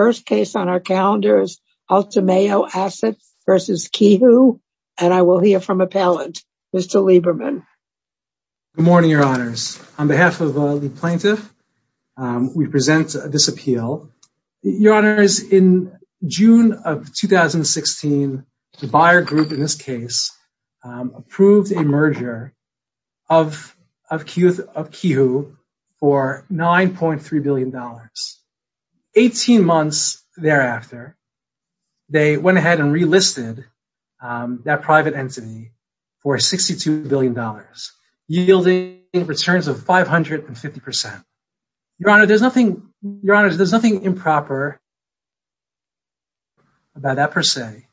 first case on our calendars, Altameo Assets versus Kihou, and I will hear from appellant, Mr. Lieberman. Good morning, your honors. On behalf of the plaintiff, we present this appeal. Your honors, in June of 2016, the Bayer Group, in this case, approved a merger of Kihou for $9.3 billion. 18 months thereafter, they went ahead and relisted that private entity for $62 billion, yielding returns of 550%. Your honors, there's nothing improper about that per se,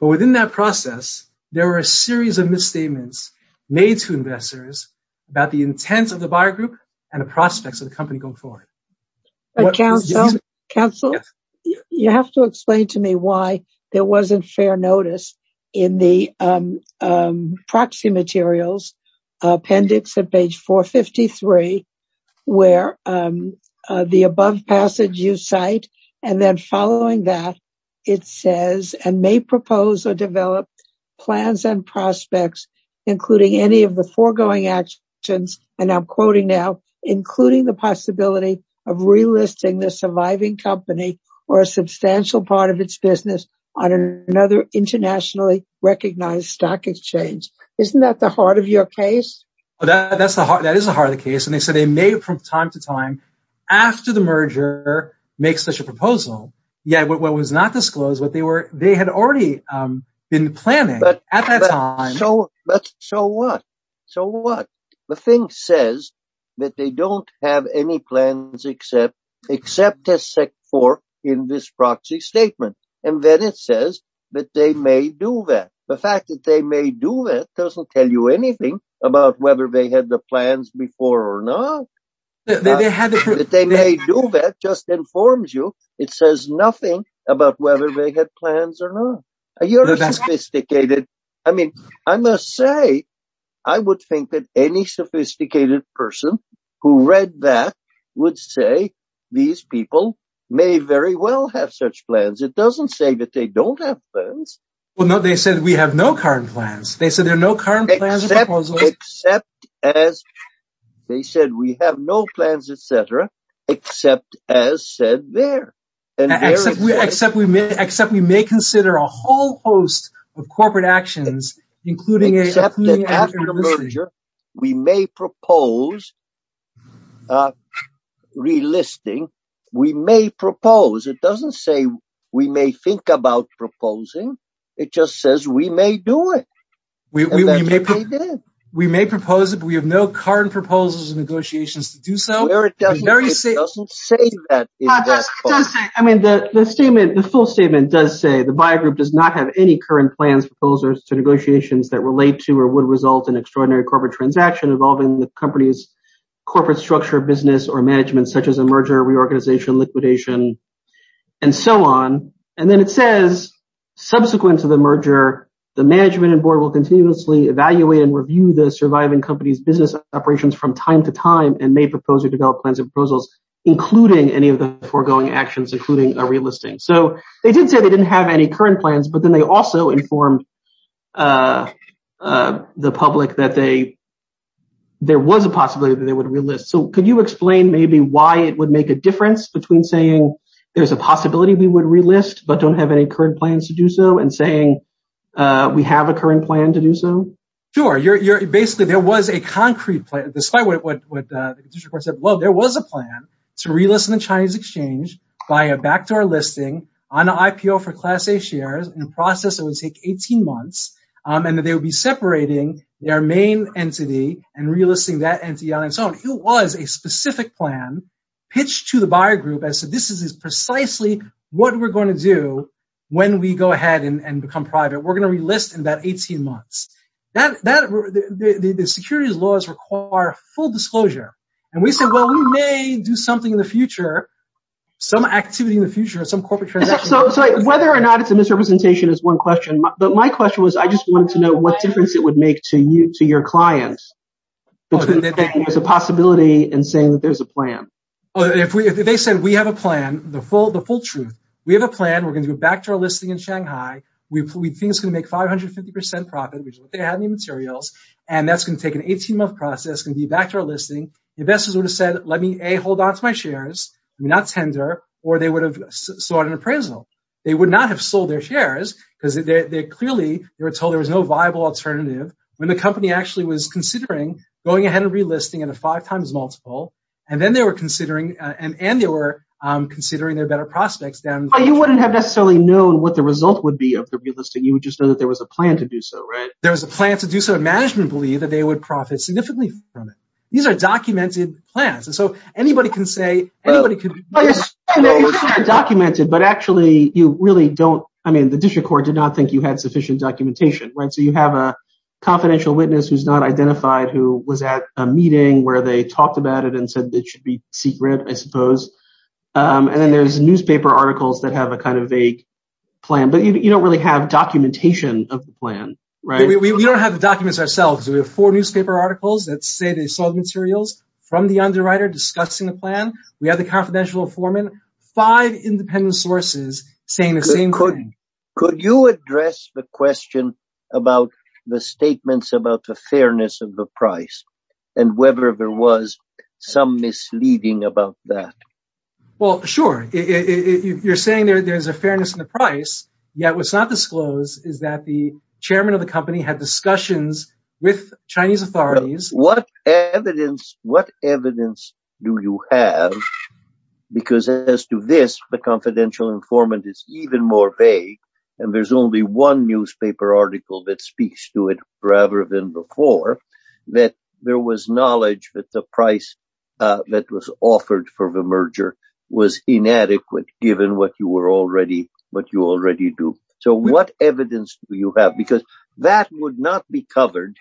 but within that process, there were a series of misstatements made to investors about the intents of the Bayer Group and the prospects of the company going forward. But counsel, you have to explain to me why there wasn't fair notice in the proxy materials, appendix at page 453, where the above passage you cite, and then following that, it says, and may propose or develop plans and prospects, including any of the foregoing actions, and I'm quoting now, including the possibility of relisting the surviving company or a substantial part of its business on another internationally recognized stock exchange. Isn't that the heart of your case? That is the heart of the case. And they said they made it from time to time after the merger, make such a proposal, yet what was not disclosed, what they had already been planning at that time. So what? So what? The thing says that they don't have any plans except as set forth in this proxy statement. And then it says that they may do that. The fact that they may do that doesn't tell you anything about whether they had the plans before or not. That they may do that just informs you. It says nothing about whether they had plans or not. You're sophisticated. I mean, I must say, I would think that any sophisticated person who read that would say, these people may very well have such plans. It doesn't say that they don't have plans. Well, no, they said we have no current plans. They said there are no current plans or proposals. Except as they said, we have no plans, et cetera, except as said there. Except we may consider a whole host of corporate actions, including a merger. We may propose relisting. We may propose. It doesn't say we may think about proposing. It just says we may do it. We may propose it, but we have no current proposals and negotiations to do so. It doesn't say that in that book. I mean, the statement, the full statement does say the buy group does not have any current plans, proposals, or negotiations that relate to or would result in extraordinary corporate transaction involving the company's corporate structure, business, or management, such as a merger, reorganization, liquidation, and so on. And then it says subsequent to the merger, the management and board will continuously evaluate and review the surviving company's business operations from time to time and may propose or develop plans and proposals, including any of the foregoing actions, including a relisting. So they did say they didn't have any current plans, but then they also informed the public that there was a possibility that they would relist. So could you explain maybe why it would make a difference between saying there's a possibility we would relist, but don't have any current plans to do so and saying we have a current plan to do so? Sure. Basically, there was a concrete plan, despite what the condition report said. Well, there was a plan to relist in the Chinese exchange by a backdoor listing on an IPO for Class A shares in a process that would take 18 months, and that they would be separating their main entity and relisting that entity on its own. It was a specific plan pitched to the buyer group and said, this is precisely what we're going to do when we go ahead and become private. We're going to relist in about 18 months. The securities laws require full disclosure. And we said, well, we may do something in the future some activity in the future, some corporate transaction. So whether or not it's a misrepresentation is one question. But my question was, I just wanted to know what difference it would make to your clients between saying there's a possibility and saying that there's a plan. Well, if they said, we have a plan, the full truth. We have a plan. We're going to go back to our listing in Shanghai. We think it's going to make 550% profit, which is what they had in the materials. And that's going to take an 18 month process, going to be back to our listing. Investors would have said, let me A, hold onto my shares. I mean, not tender, or they would have sought an appraisal. They would not have sold their shares because they clearly, they were told there was no viable alternative when the company actually was considering going ahead and relisting in a five times multiple. And then they were considering and they were considering their better prospects down. You wouldn't have necessarily known what the result would be of the relisting. You would just know that there was a plan to do so, right? There was a plan to do so. Management believed that they would profit significantly from it. These are documented plans. So anybody can say, anybody can- Well, you're saying they're documented, but actually you really don't, I mean, the district court did not think you had sufficient documentation, right? So you have a confidential witness who's not identified, who was at a meeting where they talked about it and said it should be secret, I suppose. And then there's newspaper articles that have a kind of a plan, but you don't really have documentation of the plan, right? We don't have the documents ourselves. We have four newspaper articles that say they saw the materials from the underwriter discussing the plan. We have the confidential informant, five independent sources saying the same thing. Could you address the question about the statements about the fairness of the price and whether there was some misleading about that? Well, sure. You're saying there's a fairness in the price, yet what's not disclosed is that the chairman of the company had discussions with Chinese authorities. What evidence do you have? Because as to this, the confidential informant is even more vague and there's only one newspaper article that speaks to it rather than before, that there was knowledge that the price that was offered for the merger was inadequate given what you already do. So what evidence do you have? Because that would not be covered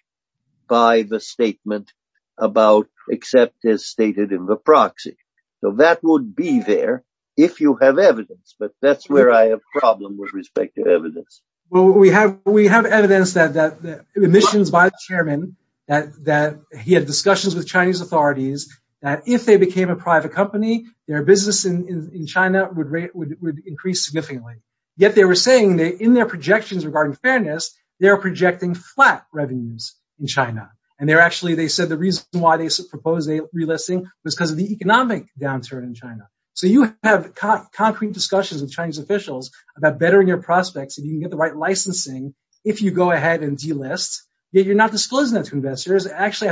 by the statement about except as stated in the proxy. So that would be there if you have evidence, but that's where I have problem with respect to evidence. Well, we have evidence that the admissions by the chairman that he had discussions with Chinese authorities that if they became a private company, their business in China would increase significantly. Yet they were saying that in their projections regarding fairness, they're projecting flat revenues in China. And they're actually, they said the reason why they proposed a relisting was because of the economic downturn in China. So you have concrete discussions with Chinese officials about bettering your prospects if you can get the right licensing, if you go ahead and delist, yet you're not disclosing that to investors. Actually,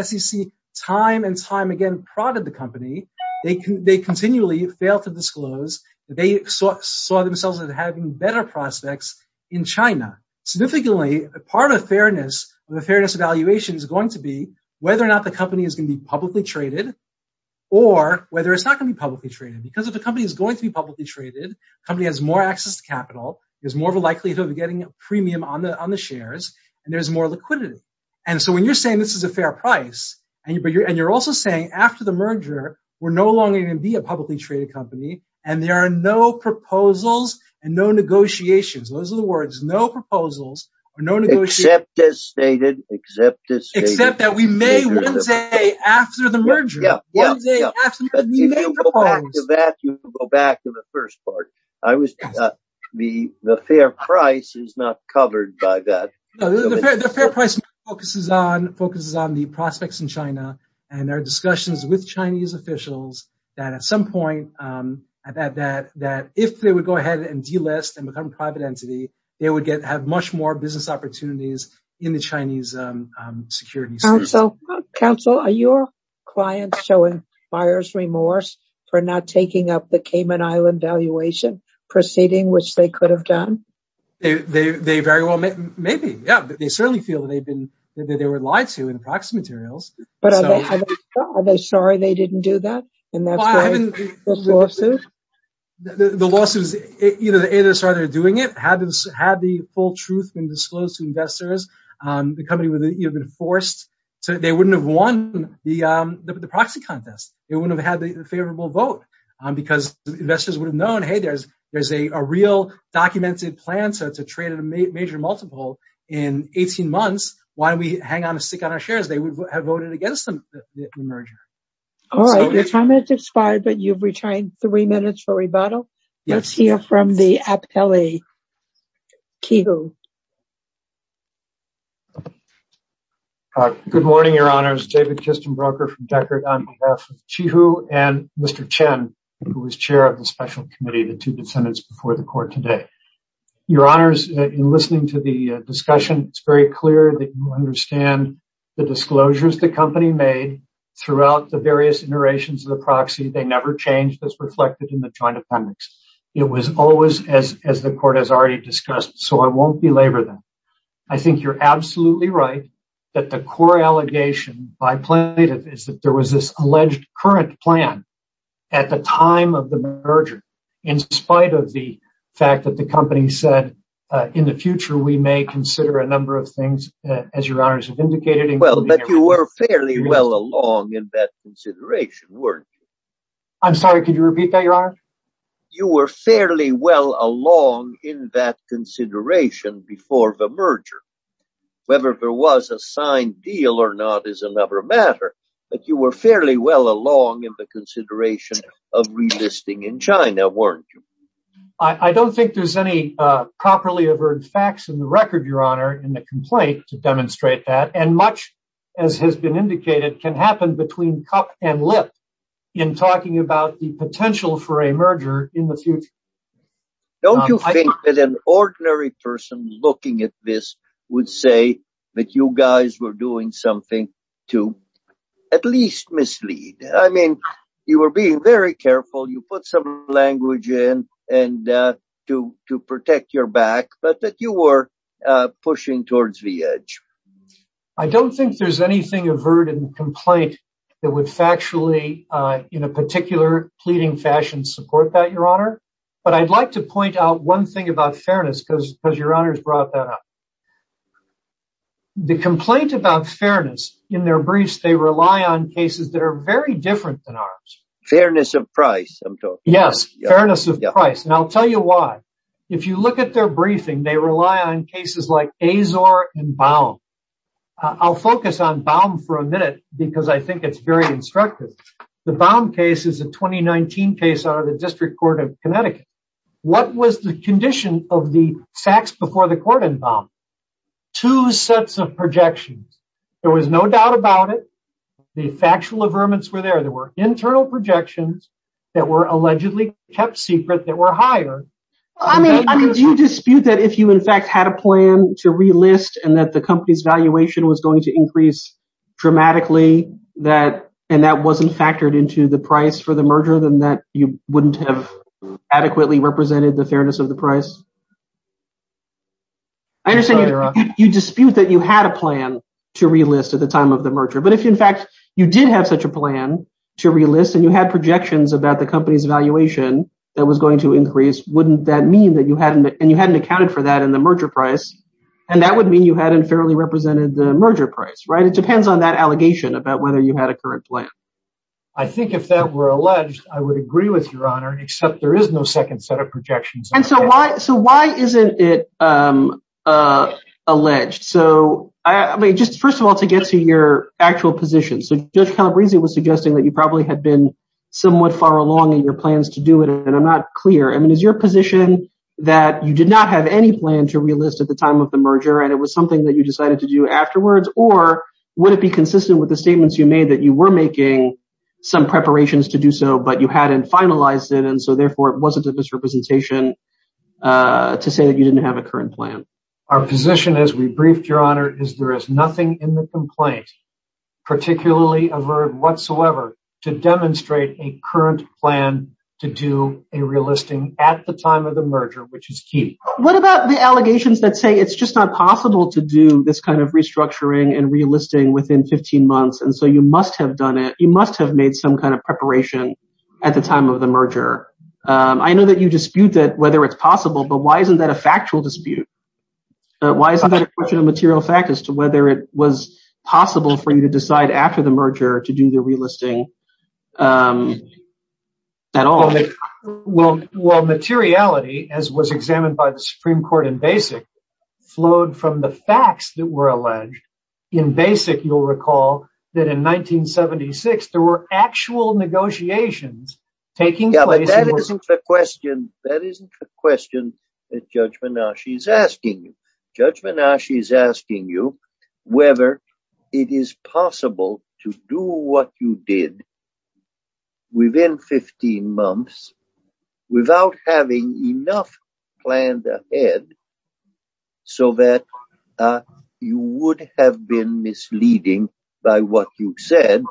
SEC time and time again prodded the company. They continually fail to disclose that they saw themselves as having better prospects in China. Significantly, a part of fairness, the fairness evaluation is going to be whether or not the company is gonna be publicly traded or whether it's not gonna be publicly traded. Because if the company is going to be publicly traded, company has more access to capital, there's more of a likelihood of getting a premium on the shares and there's more liquidity. And so when you're saying this is a fair price and you're also saying after the merger, we're no longer gonna be a publicly traded company and there are no proposals and no negotiations. Those are the words, no proposals or no negotiations. Except as stated, except as stated. Except that we may one day after the merger. Yeah, yeah, yeah. One day after the merger, we may propose. If you go back to that, you can go back to the first part. I was, the fair price is not covered by that. No, the fair price focuses on the prospects in China and there are discussions with Chinese officials that at some point, that if they would go ahead and delist and become a private entity, they would have much more business opportunities in the Chinese security space. Counsel, are your clients showing buyer's remorse for not taking up the Cayman Island valuation proceeding, which they could have done? They very well may be. Yeah, they certainly feel that they were lied to in the proxy materials. But are they sorry they didn't do that? And that's why the lawsuit? The lawsuits, either they're sorry they're doing it, had the full truth been disclosed to investors, the company would have been forced. So they wouldn't have won the proxy contest. They wouldn't have had the favorable vote because investors would have known, hey, there's a real documented plan to trade at a major multiple in 18 months. Why don't we hang on a stick on our shares? They would have voted against the merger. All right, your time has expired, but you've retained three minutes for rebuttal. Let's hear from the appellee, Qi Hu. Good morning, your honors. David Kistenbroker from Deckard on behalf of Qi Hu and Mr. Chen, who is chair of the special committee, the two dissidents before the court today. Your honors, in listening to the discussion, it's very clear that you understand the disclosures the company made throughout the various iterations of the proxy. They never changed as reflected in the joint appendix. It was always as the court has already discussed. So I won't belabor that. I think you're absolutely right that the core allegation by plaintiff is that there was this alleged current plan at the time of the merger, in spite of the fact that the company said, in the future, we may consider a number of things, as your honors have indicated. Well, but you were fairly well along in that consideration, weren't you? I'm sorry, could you repeat that, your honor? You were fairly well along in that consideration before the merger. Whether there was a signed deal or not is another matter, but you were fairly well along in the consideration of relisting in China, weren't you? I don't think there's any properly averred facts in the record, your honor, in the complaint to demonstrate that, and much, as has been indicated, can happen between cup and lip in talking about the potential for a merger in the future. Don't you think that an ordinary person looking at this would say that you guys were doing something to at least mislead? I mean, you were being very careful. You put some language in to protect your back, but that you were pushing towards the edge. I don't think there's anything averted in the complaint that would factually, in a particular pleading fashion, support that, your honor, but I'd like to point out one thing about fairness, because your honors brought that up. The complaint about fairness, in their briefs, they rely on cases that are very different than ours. Fairness of price, I'm talking about. Yes, fairness of price, and I'll tell you why. If you look at their briefing, they rely on cases like Azor and Baum. I'll focus on Baum for a minute, because I think it's very instructive. The Baum case is a 2019 case out of the District Court of Connecticut. What was the condition of the facts before the court in Baum? Two sets of projections. There was no doubt about it. The factual averments were there. There were internal projections that were allegedly kept secret that were higher. I mean, do you dispute that if you, in fact, had a plan to relist and that the company's valuation was going to increase dramatically, and that wasn't factored into the price for the merger, then that you wouldn't have adequately represented the fairness of the price? I understand you dispute that you had a plan to relist at the time of the merger, but if, in fact, you did have such a plan to relist and you had projections about the company's valuation that was going to increase, wouldn't that mean that you hadn't, and you hadn't accounted for that in the merger price, and that would mean you hadn't fairly represented the merger price, right? It depends on that allegation about whether you had a current plan. I think if that were alleged, I would agree with your honor, except there is no second set of projections. And so why isn't it alleged? So, I mean, just first of all, to get to your actual position. So Judge Calabresi was suggesting that you probably had been somewhat far along in your plans to do it, and I'm not clear. I mean, is your position that you did not have any plan to relist at the time of the merger, and it was something that you decided to do afterwards, or would it be consistent with the statements you made that you were making some preparations to do so, but you hadn't finalized it, and so therefore it wasn't a misrepresentation to say that you didn't have a current plan? Our position, as we briefed your honor, is there is nothing in the complaint, particularly a verb whatsoever, to demonstrate a current plan to do a relisting at the time of the merger, which is key. What about the allegations that say it's just not possible to do this kind of restructuring and relisting within 15 months, and so you must have done it, you must have made some kind of preparation at the time of the merger? I know that you dispute that, whether it's possible, but why isn't that a factual dispute? Why isn't that a question of material fact as to whether it was possible for you to decide after the merger to do the relisting at all? Well, materiality, as was examined by the Supreme Court in Basic, flowed from the facts that were alleged. In Basic, you'll recall that in 1976, there were actual negotiations taking place- Yeah, but that isn't the question, that isn't the question at judgment now. Judgment now, she's asking you, judgment now, she's asking you whether it is possible to do what you did within 15 months without having enough planned ahead so that you would have been misleading by what you said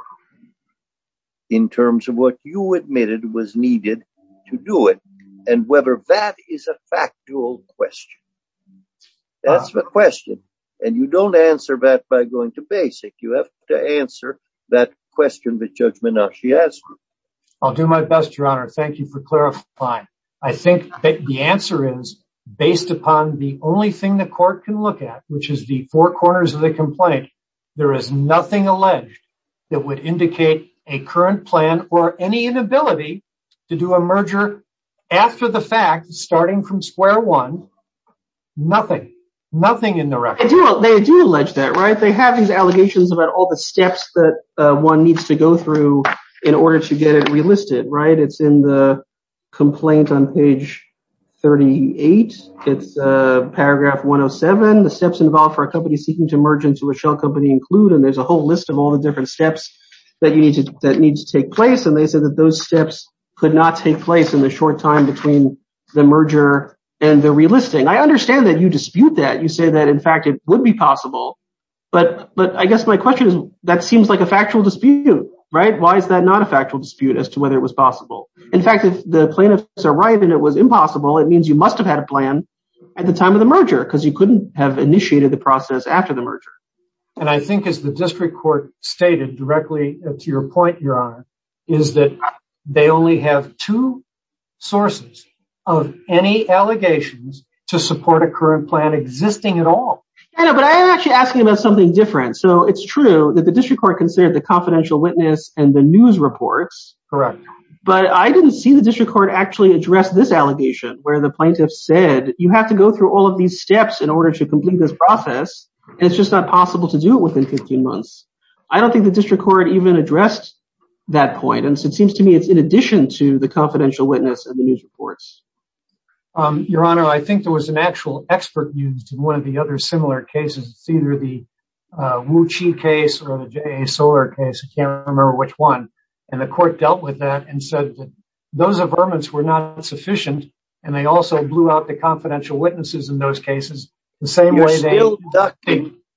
in terms of what you admitted was needed to do it, and whether that is a factual question. That's the question, and you don't answer that by going to Basic. You have to answer that question that judgment now, she asked you. I'll do my best, Your Honor. Thank you for clarifying. I think that the answer is, based upon the only thing the court can look at, which is the four corners of the complaint, there is nothing alleged that would indicate a current plan or any inability to do a merger after the fact, starting from square one, nothing, nothing in the record. They do allege that, right? They have these allegations about all the steps that one needs to go through in order to get it relisted, right? It's in the complaint on page 38. It's paragraph 107. The steps involved for a company seeking to merge into a shell company include, and there's a whole list of all the different steps that needs to take place, and they said that those steps could not take place in the short time between the merger and the relisting. I understand that you dispute that. You say that, in fact, it would be possible, but I guess my question is, that seems like a factual dispute, right? Why is that not a factual dispute as to whether it was possible? In fact, if the plaintiffs are right and it was impossible, it means you must have had a plan at the time of the merger because you couldn't have initiated the process after the merger. And I think, as the district court stated directly to your point, Your Honor, is that they only have two sources of any allegations to support a current plan existing at all. I know, but I'm actually asking about something different. So it's true that the district court considered the confidential witness and the news reports. Correct. But I didn't see the district court actually address this allegation, where the plaintiffs said, you have to go through all of these steps in order to complete this process, and it's just not possible to do it within 15 months. I don't think the district court even addressed that point. And so it seems to me, it's in addition to the confidential witness and the news reports. Your Honor, I think there was an actual expert used in one of the other similar cases. It's either the Wu Chi case or the J.A. Soler case. I can't remember which one. And the court dealt with that and said that those averments were not sufficient, and they also blew out the confidential witnesses in those cases the same way they-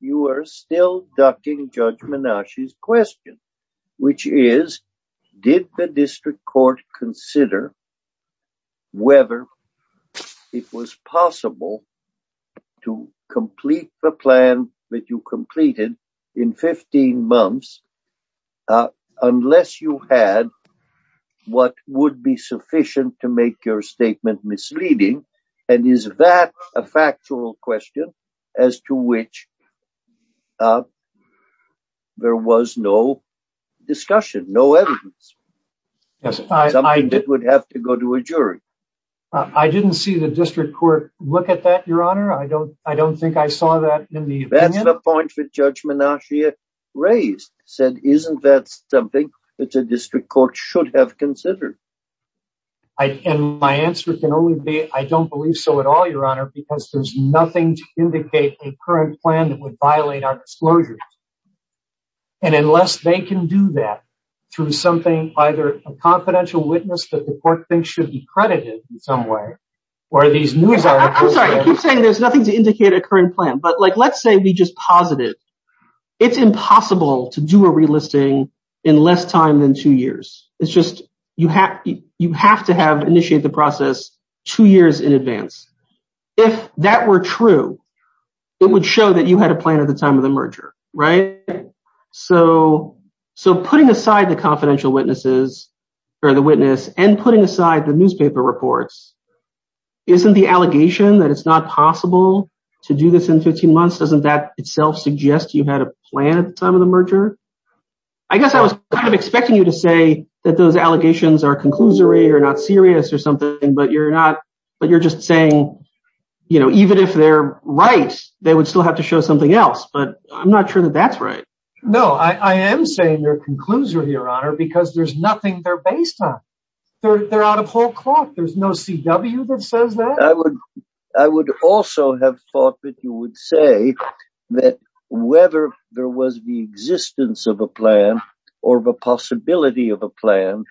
You are still ducking Judge Menashe's question, which is, did the district court consider whether it was possible to complete the plan that you completed in 15 months, unless you had what would be sufficient to make your statement misleading? And is that a factual question as to which there was no discussion, no evidence? Yes, I- Something that would have to go to a jury. I didn't see the district court look at that, Your Honor. I don't think I saw that in the opinion. That's the point that Judge Menashe raised, said, isn't that something that the district court should have considered? And my answer can only be, I don't believe so at all, Your Honor, because there's nothing to indicate a current plan that would violate our disclosures. And unless they can do that through something, either a confidential witness that the court thinks should be credited in some way, or these news articles- I'm sorry, you keep saying there's nothing to indicate a current plan, but let's say we just posit it. It's impossible to do a relisting in less time than two years. It's just, you have to have initiated the process two years in advance. If that were true, it would show that you had a plan at the time of the merger, right? So putting aside the confidential witnesses, or the witness, and putting aside the newspaper reports, isn't the allegation that it's not possible to do this in 15 months, doesn't that itself suggest you had a plan at the time of the merger? I guess I was kind of expecting you to say that those allegations are conclusory or not serious or something, but you're just saying, even if they're right, they would still have to show something else, but I'm not sure that that's right. No, I am saying they're conclusory, Your Honor, because there's nothing they're based on. They're out of whole cloth. There's no CW that says that. I would also have thought that you would say that whether there was the existence of a plan or the possibility of a plan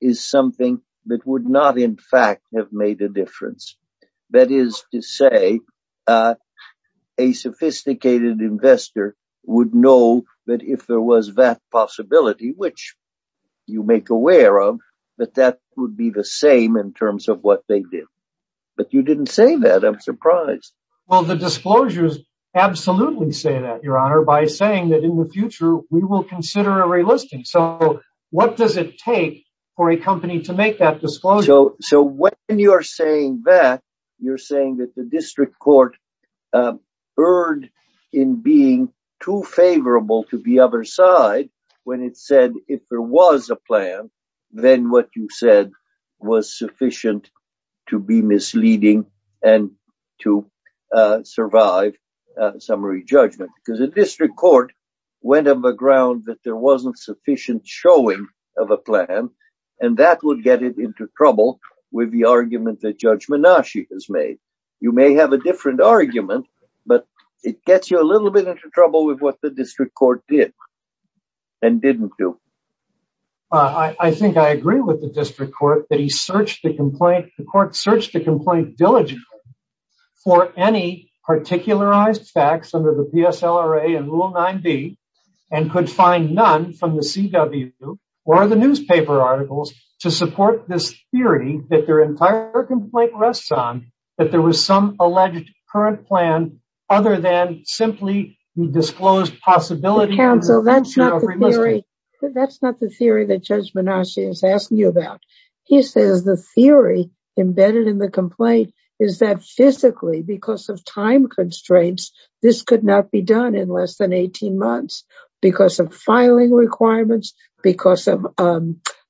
is something that would not in fact have made a difference. That is to say, a sophisticated investor would know that if there was that possibility, which you make aware of, that that would be the same in terms of what they did. But you didn't say that, I'm surprised. Well, the disclosures absolutely say that, Your Honor, by saying that in the future, we will consider a relisting. So what does it take for a company to make that disclosure? So when you're saying that, you're saying that the district court erred in being too favorable to the other side when it said if there was a plan, then what you said was sufficient to be misleading and to survive summary judgment, because the district court went on the ground that there wasn't sufficient showing of a plan, and that would get it into trouble with the argument that Judge Menashe has made. You may have a different argument, but it gets you a little bit into trouble with what the district court did and didn't do. I think I agree with the district court that the court searched the complaint diligently for any particularized facts under the PSLRA and Rule 9b and could find none from the CW or the newspaper articles to support this theory that their entire complaint rests on that there was some alleged current plan other than simply the disclosed possibility of a future of remission. That's not the theory that Judge Menashe is asking you about. He says the theory embedded in the complaint is that physically, because of time constraints, this could not be done in less than 18 months because of filing requirements, because of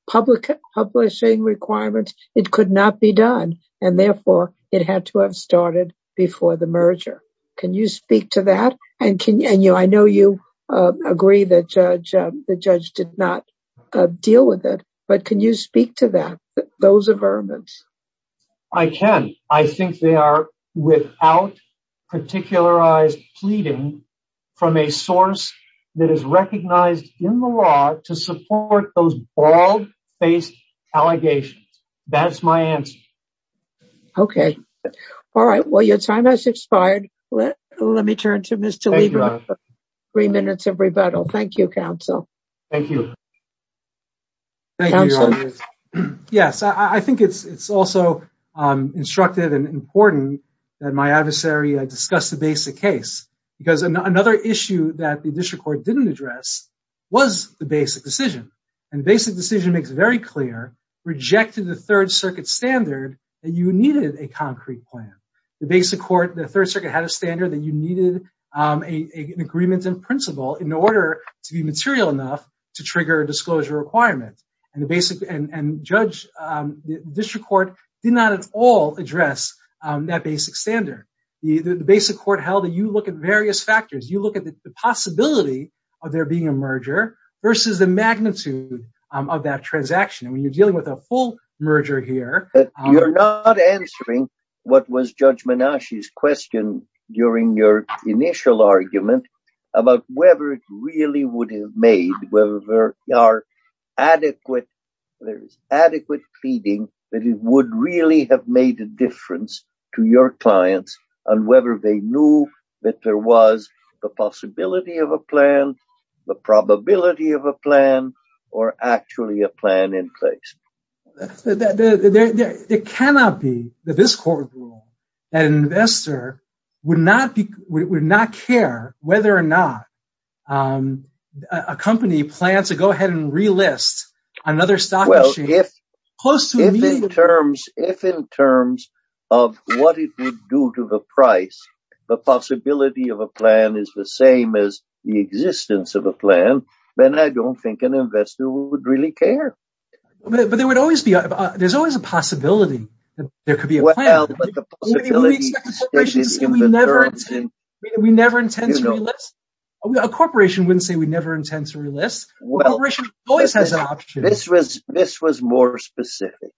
publishing requirements. It could not be done, and therefore it had to have started before the merger. Can you speak to that? And I know you agree that the judge did not deal with it, but can you speak to that? Those are vermins. I can. I think they are without particularized pleading from a source that is recognized in the law to support those bald-faced allegations. That's my answer. Okay. All right, well, your time has expired. Let me turn to Mr. Weaver for three minutes of rebuttal. Thank you, counsel. Thank you. Thank you, Your Honor. Yes, I think it's also instructive and important that my adversary discuss the basic case because another issue that the district court didn't address was the basic decision. And the basic decision makes it very clear, rejected the Third Circuit standard that you needed a concrete plan. The basic court, the Third Circuit had a standard that you needed an agreement in principle in order to be material enough to trigger a disclosure requirement. And judge, the district court did not at all address that basic standard. The basic court held that you look at various factors. You look at the possibility of there being a merger versus the magnitude of that transaction. And when you're dealing with a full merger here- You're not answering what was Judge Menashe's question during your initial argument about whether it really would have made, whether there are adequate, there is adequate pleading that it would really have made a difference to your clients on whether they knew that there was the possibility of a plan, the probability of a plan, or actually a plan in place. It cannot be that this court ruled that an investor would not care whether or not a company plans to go ahead and relist another stock- Well, if in terms of what it would do to the price, the possibility of a plan is the same as the existence of a plan, then I don't think an investor would really care. But there would always be, there's always a possibility that there could be a plan. Well, but the possibility- We never intend to relist? A corporation wouldn't say we never intend to relist. A corporation always has an option. This was more specific,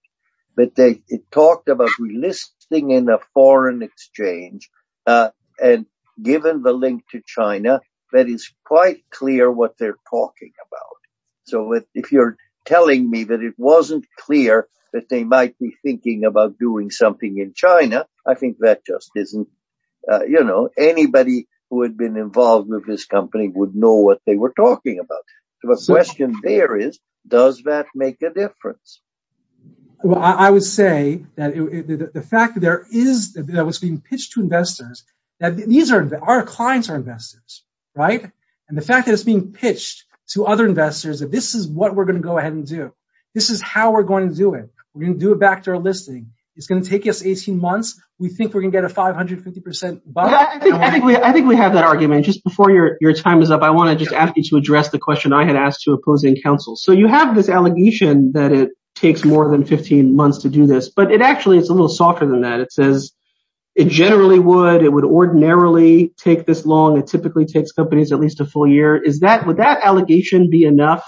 but it talked about relisting in a foreign exchange and given the link to China, that is quite clear what they're talking about. So if you're telling me that it wasn't clear that they might be thinking about doing something in China, I think that just isn't, anybody who had been involved with this company would know what they were talking about. So the question there is, does that make a difference? Well, I would say that the fact that there is, that it was being pitched to investors, that these are, our clients are investors, right? And the fact that it's being pitched to other investors, that this is what we're going to go ahead and do. This is how we're going to do it. We're going to do it back to our listing. It's going to take us 18 months. We think we're going to get a 550% buy back. I think we have that argument. Just before your time is up, I want to just ask you to address the question I had asked to opposing counsel. So you have this allegation that it takes more than 15 months to do this, but it actually, it's a little softer than that. It says it generally would, it would ordinarily take this long. It typically takes companies at least a full year. Is that, would that allegation be enough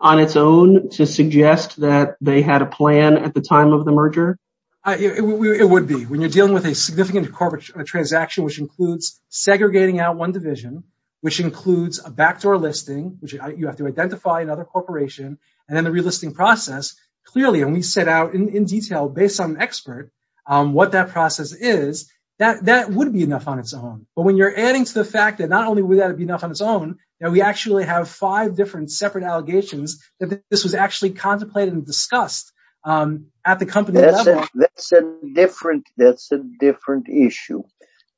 on its own to suggest that they had a plan at the time of the merger? It would be. When you're dealing with a significant corporate transaction which includes segregating out one division, which includes a backdoor listing, which you have to identify another corporation, and then the relisting process, clearly, and we set out in detail based on an expert on what that process is, that would be enough on its own. But when you're adding to the fact that not only would that be enough on its own, that we actually have five different separate allegations that this was actually contemplated and discussed at the company level. That's a different, that's a different issue.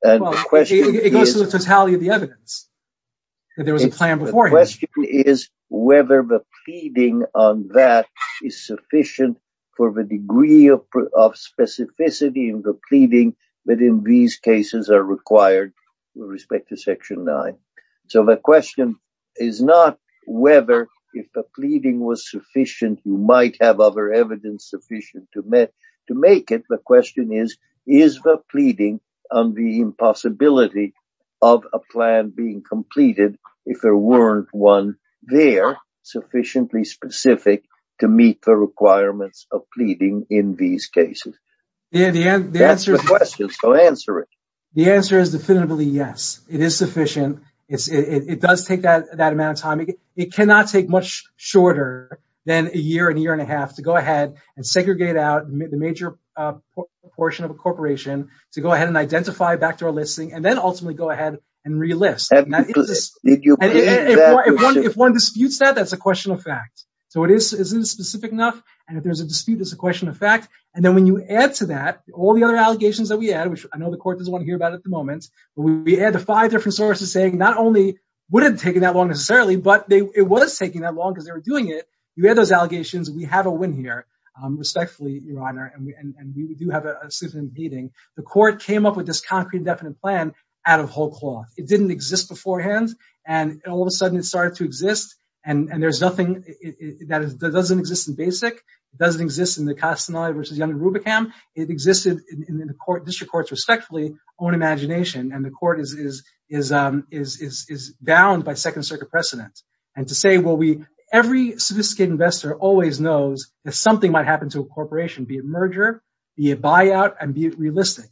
And the question is- Well, it goes to the totality of the evidence, that there was a plan beforehand. The question is whether the pleading on that is sufficient for the degree of specificity in the pleading that in these cases are required with respect to section nine. So the question is not whether if the pleading was sufficient, you might have other evidence sufficient to make it. The question is, is the pleading on the impossibility of a plan being completed, if there weren't one there sufficiently specific to meet the requirements of pleading in these cases? Yeah, the answer- That's the question, so answer it. The answer is definitively yes. It is sufficient. It does take that amount of time. It cannot take much shorter than a year and a year and a half to go ahead and segregate out the major portion of a corporation to go ahead and identify back to our listing and then ultimately go ahead and relist. And if one disputes that, that's a question of fact. So it isn't specific enough. And if there's a dispute, it's a question of fact. And then when you add to that, all the other allegations that we add, which I know the court doesn't want to hear about at the moment, but we add the five different sources saying not only would it have taken that long necessarily, but it was taking that long because they were doing it. You add those allegations. We have a win here, respectfully, Your Honor. And we do have a suit in the meeting. The court came up with this concrete, definite plan out of whole cloth. It didn't exist beforehand. And all of a sudden it started to exist. And there's nothing that doesn't exist in BASIC. It doesn't exist in the Castaneda versus Yonah Rubicam. It existed in the district courts, respectfully, own imagination. And the court is bound by second circuit precedent. And to say, well, we, every sophisticated investor always knows that something might happen to a corporation, be it merger, be it buyout, and be it realistic.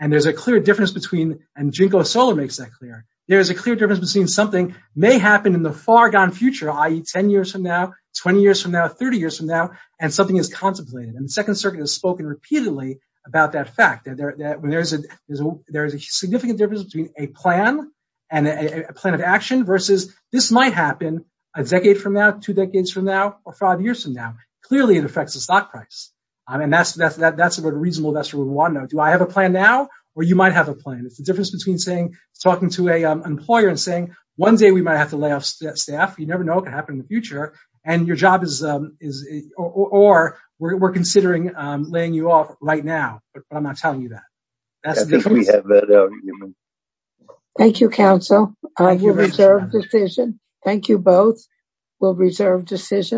And there's a clear difference between, and Ginkgo Solar makes that clear. There is a clear difference between something may happen in the far gone future, i.e. 10 years from now, 20 years from now, 30 years from now, and something is contemplated. And the second circuit has spoken repeatedly about that fact that there is a significant difference between a plan and a plan of action versus this might happen a decade from now, two decades from now, or five years from now. Clearly it affects the stock price. I mean, that's a reasonable investor would want to know, do I have a plan now? Or you might have a plan. It's the difference between saying, talking to an employer and saying, one day we might have to lay off staff. You never know what could happen in the future. And your job is, or we're considering laying you off right now, but I'm not telling you that. That's the difference. I think we have that argument. Thank you, counsel. You're reserved decision. Thank you both. We'll reserve decision.